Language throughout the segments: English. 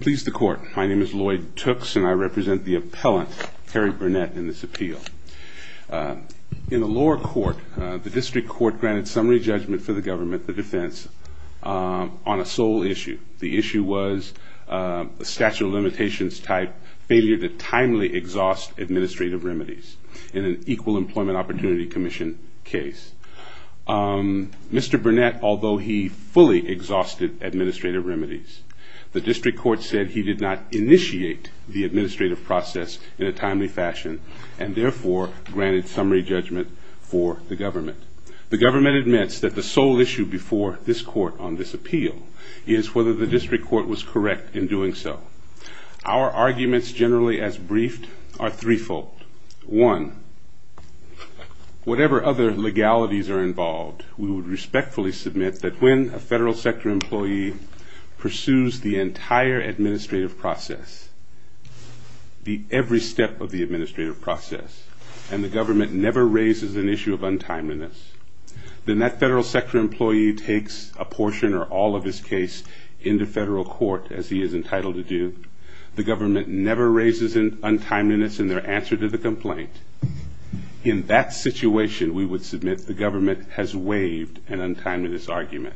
Please the court. My name is Lloyd Tooks, and I represent the appellant, Harry Burnett, in this appeal. In the lower court, the district court granted summary judgment for the government, the defense, on a sole issue. The issue was a statute of limitations type failure to timely exhaust administrative remedies in an Equal Employment Opportunity Commission case. Mr. Burnett, although he fully exhausted administrative remedies, the district court said he did not initiate the administrative process in a timely fashion and therefore granted summary judgment for the government. The government admits that the sole issue before this court on this appeal is whether the district court was correct in doing so. Our arguments, generally as briefed, are threefold. One, whatever other legalities are involved, we would respectfully submit that when a federal sector employee pursues the entire administrative process, every step of the administrative process, and the government never raises an issue of untimeliness, then that federal sector employee takes a portion or all of his case into federal court, as he is entitled to do. The government never raises an untimeliness in their answer to the complaint. In that situation, we would submit the government has waived an untimeliness argument.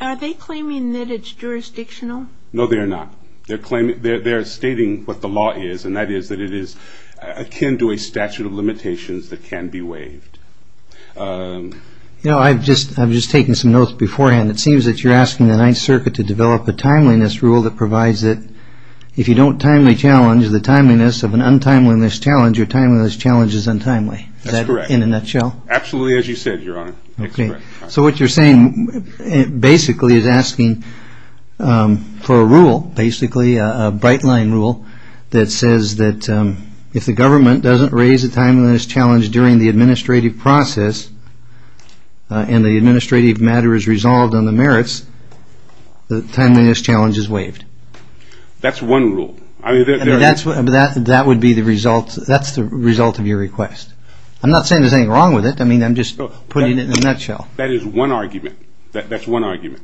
Are they claiming that it's jurisdictional? No, they are not. They're stating what the law is, and that is that it is akin to a statute of limitations that can be waived. You know, I've just taken some notes beforehand. It seems that you're asking the Ninth Circuit to develop a timeliness rule that provides that if you don't timely challenge, the timeliness of an untimeliness challenge, your timeliness challenge is untimely. That's correct. In a nutshell? Absolutely, as you said, Your Honor. Okay. So what you're saying basically is asking for a rule, basically a bright line rule, that says that if the government doesn't raise a timeliness challenge during the administrative process and the administrative matter is resolved on the merits, the timeliness challenge is waived. That's one rule. That would be the result. That's the result of your request. I'm not saying there's anything wrong with it. I mean, I'm just putting it in a nutshell. That is one argument. That's one argument.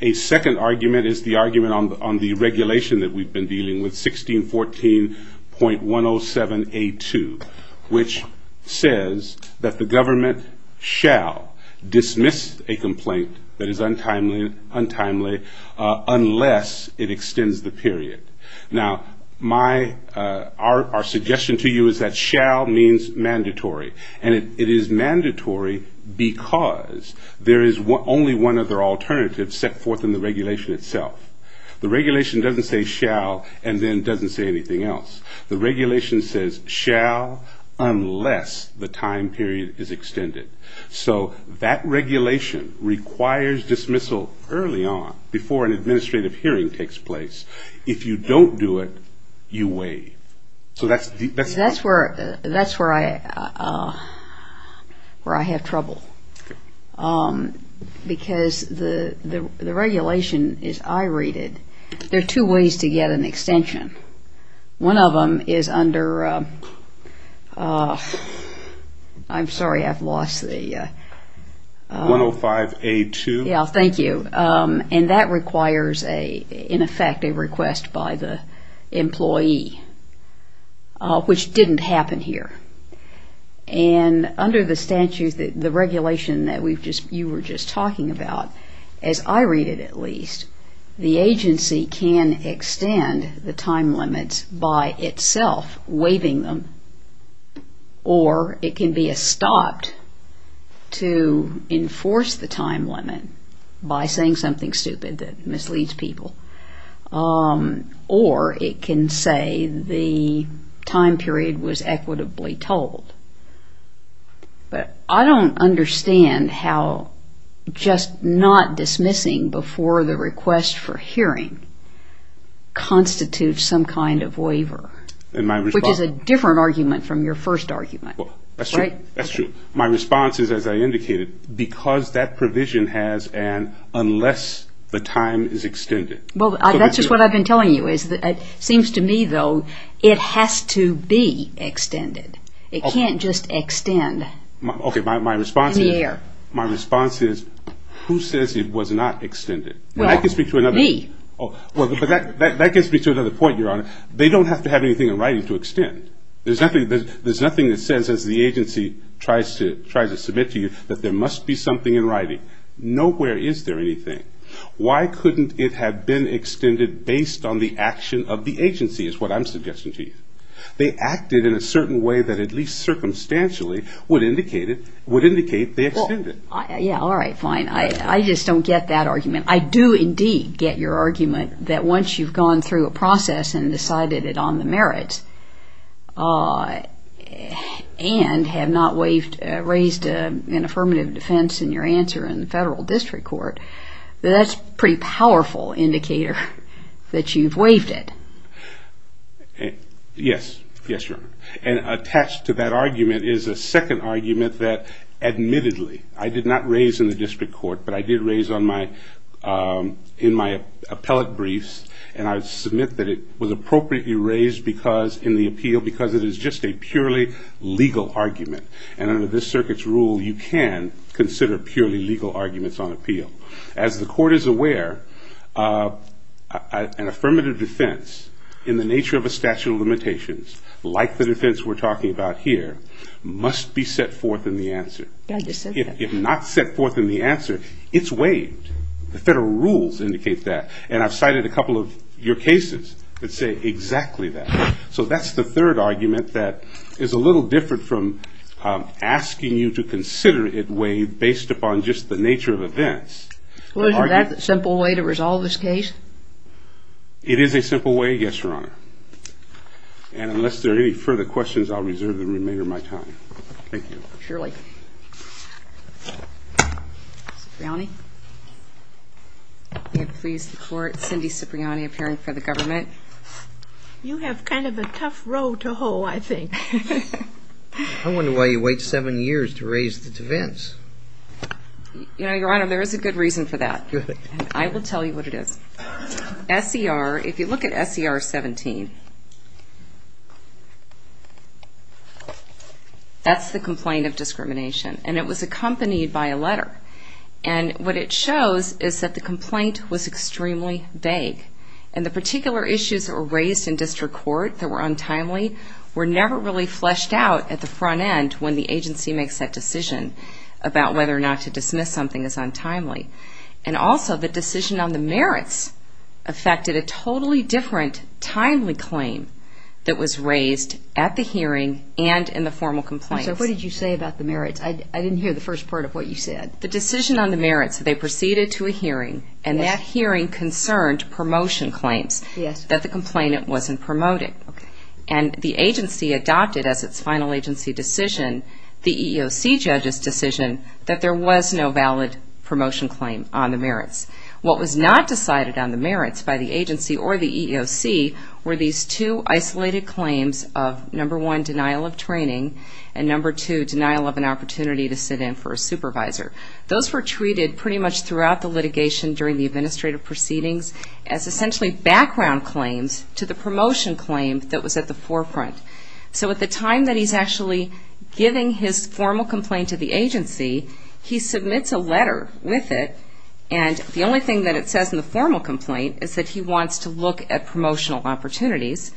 A second argument is the argument on the regulation that we've been dealing with, 1614.107A2, which says that the government shall dismiss a complaint that is untimely unless it extends the period. Now, our suggestion to you is that shall means mandatory, and it is mandatory because there is only one other alternative set forth in the regulation itself. The regulation doesn't say shall and then doesn't say anything else. The regulation says shall unless the time period is extended. So that regulation requires dismissal early on before an administrative hearing takes place. That's where I have trouble because the regulation is irated. There are two ways to get an extension. One of them is under – I'm sorry, I've lost the – 105A2. Yeah, thank you. And that requires, in effect, a request by the employee, which didn't happen here. And under the statutes, the regulation that you were just talking about, as I read it at least, the agency can extend the time limits by itself waiving them, or it can be stopped to enforce the time limit by saying something stupid that misleads people, or it can say the time period was equitably told. But I don't understand how just not dismissing before the request for hearing constitutes some kind of waiver. Which is a different argument from your first argument. That's true. My response is, as I indicated, because that provision has an unless the time is extended. Well, that's just what I've been telling you. It seems to me, though, it has to be extended. It can't just extend. Okay, my response is, who says it was not extended? Me. Well, that gets me to another point, Your Honor. They don't have to have anything in writing to extend. There's nothing that says, as the agency tries to submit to you, that there must be something in writing. Nowhere is there anything. Why couldn't it have been extended based on the action of the agency, is what I'm suggesting to you. They acted in a certain way that at least circumstantially would indicate they extended. Yeah, all right, fine. I just don't get that argument. I do indeed get your argument that once you've gone through a process and decided it on the merits, and have not raised an affirmative defense in your answer in the federal district court, that that's a pretty powerful indicator that you've waived it. Yes. Yes, Your Honor. And attached to that argument is a second argument that admittedly I did not raise in the district court, but I did raise in my appellate briefs, and I submit that it was appropriately raised in the appeal because it is just a purely legal argument. And under this circuit's rule, you can consider purely legal arguments on appeal. As the court is aware, an affirmative defense in the nature of a statute of limitations, like the defense we're talking about here, must be set forth in the answer. If not set forth in the answer, it's waived. The federal rules indicate that. And I've cited a couple of your cases that say exactly that. So that's the third argument that is a little different from asking you to consider it waived based upon just the nature of events. Well, isn't that a simple way to resolve this case? It is a simple way, yes, Your Honor. And unless there are any further questions, I'll reserve the remainder of my time. Thank you. Surely. Cipriani? May it please the Court, Cindy Cipriani, appearing for the government. You have kind of a tough row to hoe, I think. I wonder why you wait seven years to raise the defense. You know, Your Honor, there is a good reason for that. I will tell you what it is. S.E.R., if you look at S.E.R. 17, that's the complaint of discrimination. And it was accompanied by a letter. And what it shows is that the complaint was extremely vague. And the particular issues that were raised in district court that were untimely were never really fleshed out at the front end when the agency makes that decision about whether or not to dismiss something as untimely. And also, the decision on the merits affected a totally different timely claim that was raised at the hearing and in the formal complaints. And so what did you say about the merits? I didn't hear the first part of what you said. The decision on the merits, they proceeded to a hearing, and that hearing concerned promotion claims that the complainant wasn't promoting. And the agency adopted as its final agency decision, the EEOC judge's decision, that there was no valid promotion claim on the merits. What was not decided on the merits by the agency or the EEOC were these two isolated claims of, number one, to sit in for a supervisor. Those were treated pretty much throughout the litigation during the administrative proceedings as essentially background claims to the promotion claim that was at the forefront. So at the time that he's actually giving his formal complaint to the agency, he submits a letter with it. And the only thing that it says in the formal complaint is that he wants to look at promotional opportunities.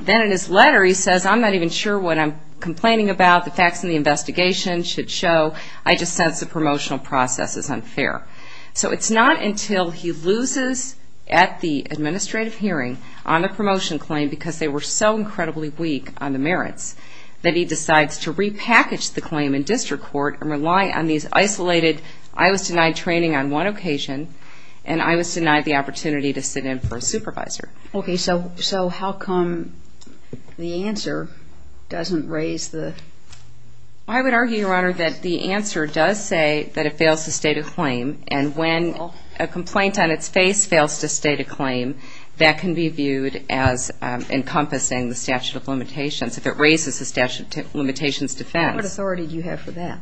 Then in his letter he says, I'm not even sure what I'm complaining about. The facts in the investigation should show. I just sense the promotional process is unfair. So it's not until he loses at the administrative hearing on the promotion claim because they were so incredibly weak on the merits that he decides to repackage the claim in district court and rely on these isolated, I was denied training on one occasion, and I was denied the opportunity to sit in for a supervisor. Okay. So how come the answer doesn't raise the? I would argue, Your Honor, that the answer does say that it fails to state a claim. And when a complaint on its face fails to state a claim, that can be viewed as encompassing the statute of limitations. If it raises the statute of limitations defense. What authority do you have for that?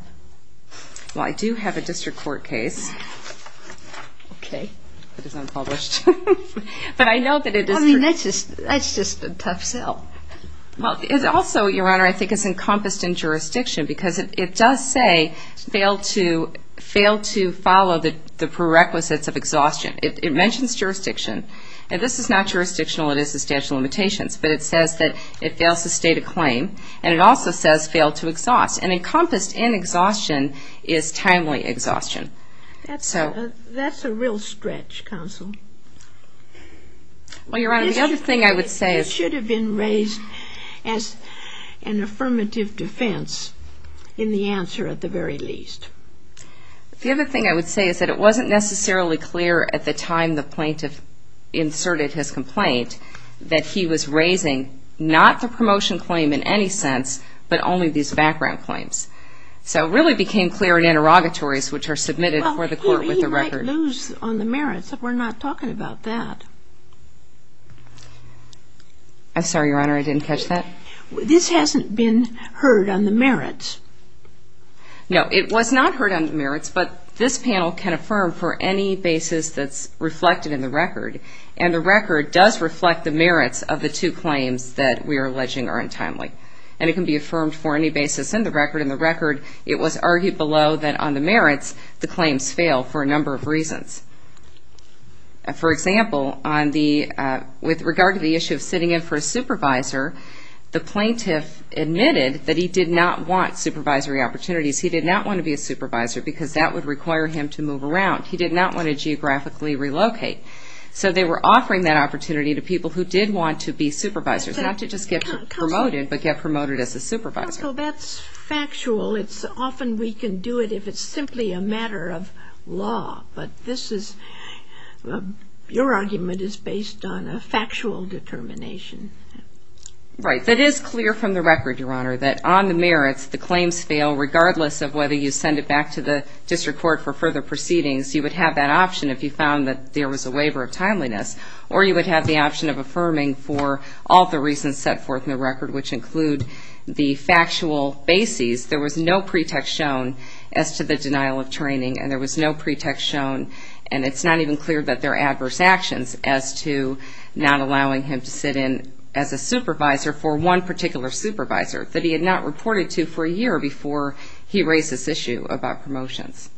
Well, I do have a district court case. Okay. It is unpublished. But I know that it is. I mean, that's just a tough sell. Also, Your Honor, I think it's encompassed in jurisdiction because it does say fail to follow the prerequisites of exhaustion. It mentions jurisdiction. And this is not jurisdictional. It is the statute of limitations. But it says that it fails to state a claim, and it also says fail to exhaust. And encompassed in exhaustion is timely exhaustion. That's a real stretch, counsel. Well, Your Honor, the other thing I would say is... It should have been raised as an affirmative defense in the answer at the very least. The other thing I would say is that it wasn't necessarily clear at the time the plaintiff inserted his complaint that he was raising not the promotion claim in any sense, but only these background claims. So it really became clear in interrogatories which are submitted for the court with the record. Well, he might lose on the merits. We're not talking about that. I'm sorry, Your Honor. I didn't catch that. This hasn't been heard on the merits. No, it was not heard on the merits, but this panel can affirm for any basis that's reflected in the record. And the record does reflect the merits of the two claims that we are alleging are untimely. And it can be affirmed for any basis in the record. In the record, it was argued below that on the merits, the claims fail for a number of reasons. For example, with regard to the issue of sitting in for a supervisor, the plaintiff admitted that he did not want supervisory opportunities. He did not want to be a supervisor because that would require him to move around. He did not want to geographically relocate. So they were offering that opportunity to people who did want to be supervisors, not to just get promoted, but get promoted as a supervisor. So that's factual. Often we can do it if it's simply a matter of law. But this is your argument is based on a factual determination. Right. That is clear from the record, Your Honor, that on the merits, the claims fail, regardless of whether you send it back to the district court for further proceedings. Or you would have the option of affirming for all the reasons set forth in the record, which include the factual basis. There was no pretext shown as to the denial of training, and there was no pretext shown, and it's not even clear that they're adverse actions, as to not allowing him to sit in as a supervisor for one particular supervisor that he had not reported to for a year before he raised this issue about promotions.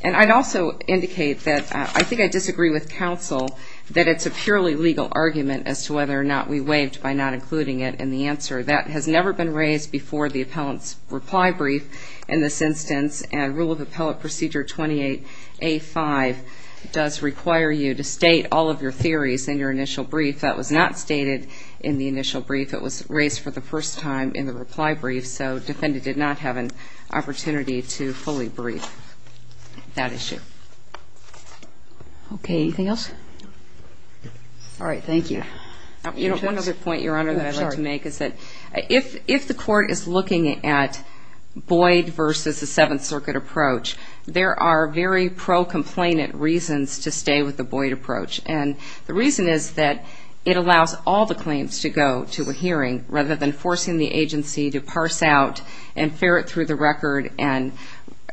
And I'd also indicate that I think I disagree with counsel that it's a purely legal argument as to whether or not we waived by not including it in the answer. That has never been raised before the appellant's reply brief in this instance, and Rule of Appellant Procedure 28A.5 does require you to state all of your theories in your initial brief. That was not stated in the initial brief. It was raised for the first time in the reply brief, so defendant did not have an opportunity to fully brief that issue. Okay, anything else? All right, thank you. You know, one other point, Your Honor, that I'd like to make is that if the court is looking at Boyd versus the Seventh Circuit approach, there are very pro-complainant reasons to stay with the Boyd approach. And the reason is that it allows all the claims to go to a hearing, and rather than forcing the agency to parse out and ferret through the record and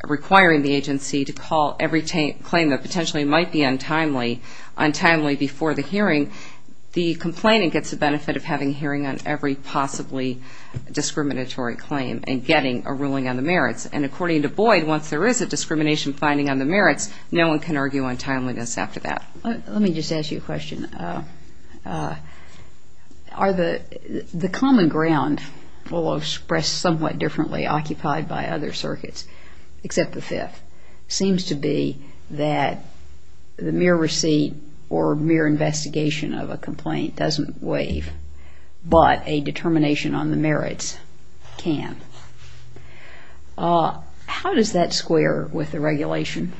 requiring the agency to call every claim that potentially might be untimely before the hearing, the complainant gets the benefit of having a hearing on every possibly discriminatory claim and getting a ruling on the merits. And according to Boyd, once there is a discrimination finding on the merits, no one can argue untimeliness after that. Let me just ask you a question. The common ground will express somewhat differently occupied by other circuits, except the Fifth, seems to be that the mere receipt or mere investigation of a complaint doesn't waive, but a determination on the merits can. How does that square with the regulation?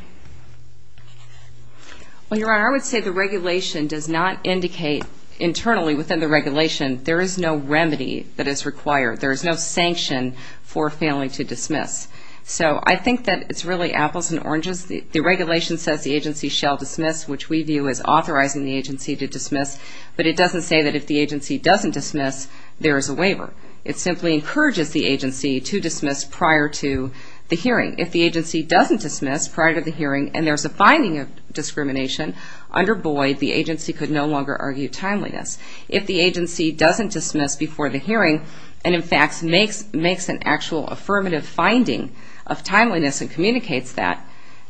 Well, Your Honor, I would say the regulation does not indicate internally within the regulation there is no remedy that is required. There is no sanction for failing to dismiss. So I think that it's really apples and oranges. The regulation says the agency shall dismiss, which we view as authorizing the agency to dismiss, but it doesn't say that if the agency doesn't dismiss, there is a waiver. It simply encourages the agency to dismiss prior to the hearing. If the agency doesn't dismiss prior to the hearing and there's a finding of discrimination, under Boyd, the agency could no longer argue timeliness. If the agency doesn't dismiss before the hearing and, in fact, makes an actual affirmative finding of timeliness and communicates that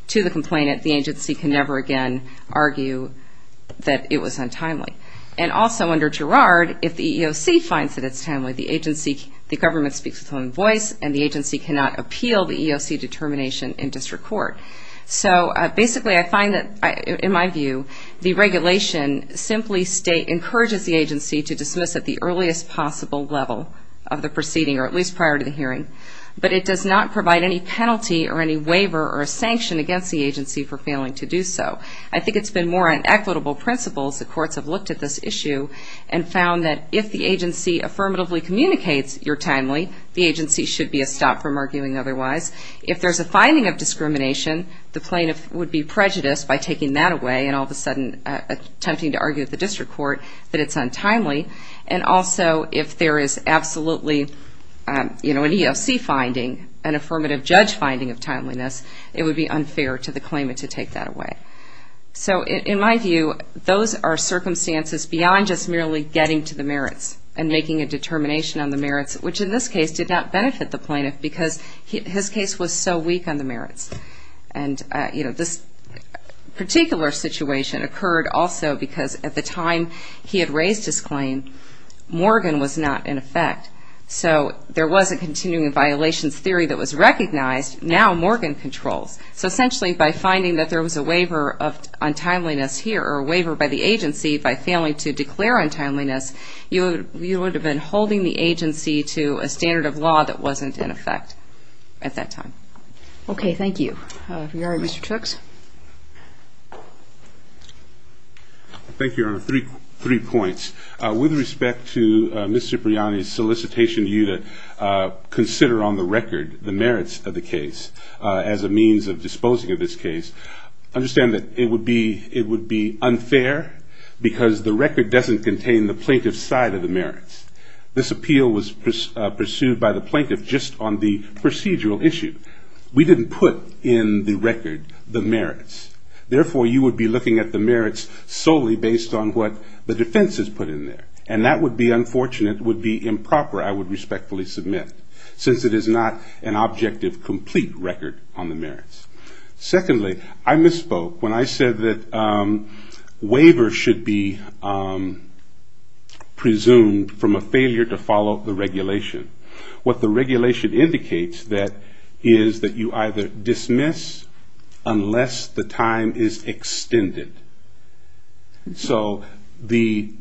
to the complainant, the agency can never again argue that it was untimely. And also under Girard, if the EEOC finds that it's timely, the government speaks its own voice and the agency cannot appeal the EEOC determination in district court. So basically I find that, in my view, the regulation simply encourages the agency to dismiss at the earliest possible level of the proceeding or at least prior to the hearing, but it does not provide any penalty or any waiver or sanction against the agency for failing to do so. I think it's been more on equitable principles. The courts have looked at this issue and found that if the agency affirmatively communicates you're timely, the agency should be stopped from arguing otherwise. If there's a finding of discrimination, the plaintiff would be prejudiced by taking that away and all of a sudden attempting to argue at the district court that it's untimely. And also, if there is absolutely an EEOC finding, an affirmative judge finding of timeliness, it would be unfair to the claimant to take that away. So in my view, those are circumstances beyond just merely getting to the merits and making a determination on the merits, which in this case did not benefit the plaintiff because his case was so weak on the merits. And this particular situation occurred also because at the time he had raised his claim, Morgan was not in effect. So there was a continuing violations theory that was recognized. Now Morgan controls. So essentially, by finding that there was a waiver of untimeliness here, or a waiver by the agency by failing to declare untimeliness, you would have been holding the agency to a standard of law that wasn't in effect at that time. Okay, thank you. If you're all right, Mr. Chooks. Thank you, Your Honor. Three points. With respect to Ms. Cipriani's solicitation, consider on the record the merits of the case as a means of disposing of this case. Understand that it would be unfair because the record doesn't contain the plaintiff's side of the merits. This appeal was pursued by the plaintiff just on the procedural issue. We didn't put in the record the merits. Therefore, you would be looking at the merits solely based on what the defense has put in there. And that would be unfortunate, would be improper, I would respectfully submit, since it is not an objective, complete record on the merits. Secondly, I misspoke when I said that waivers should be presumed from a failure to follow the regulation. What the regulation indicates is that you either dismiss unless the time is extended. So the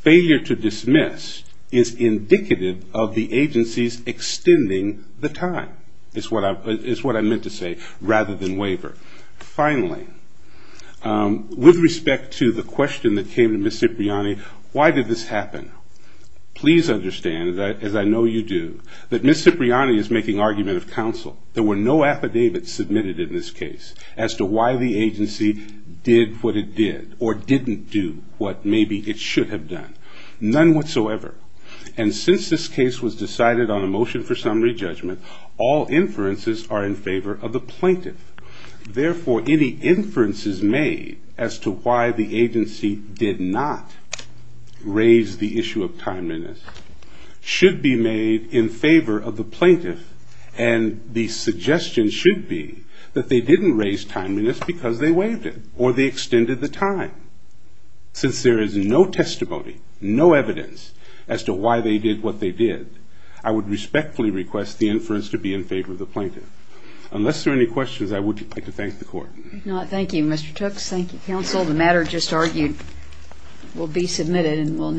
failure to dismiss is indicative of the agency's extending the time, is what I meant to say, rather than waiver. Finally, with respect to the question that came to Ms. Cipriani, why did this happen? Please understand, as I know you do, that Ms. Cipriani is making argument of counsel. There were no affidavits submitted in this case as to why the agency did what it did or didn't do what maybe it should have done, none whatsoever. And since this case was decided on a motion for summary judgment, all inferences are in favor of the plaintiff. Therefore, any inferences made as to why the agency did not raise the issue of timeliness should be made in favor of the plaintiff. And the suggestion should be that they didn't raise timeliness because they waived it or they extended the time. Since there is no testimony, no evidence as to why they did what they did, I would respectfully request the inference to be in favor of the plaintiff. Unless there are any questions, I would like to thank the Court. Thank you, Mr. Tooks. Thank you, counsel. The matter just argued will be submitted and will next be heard.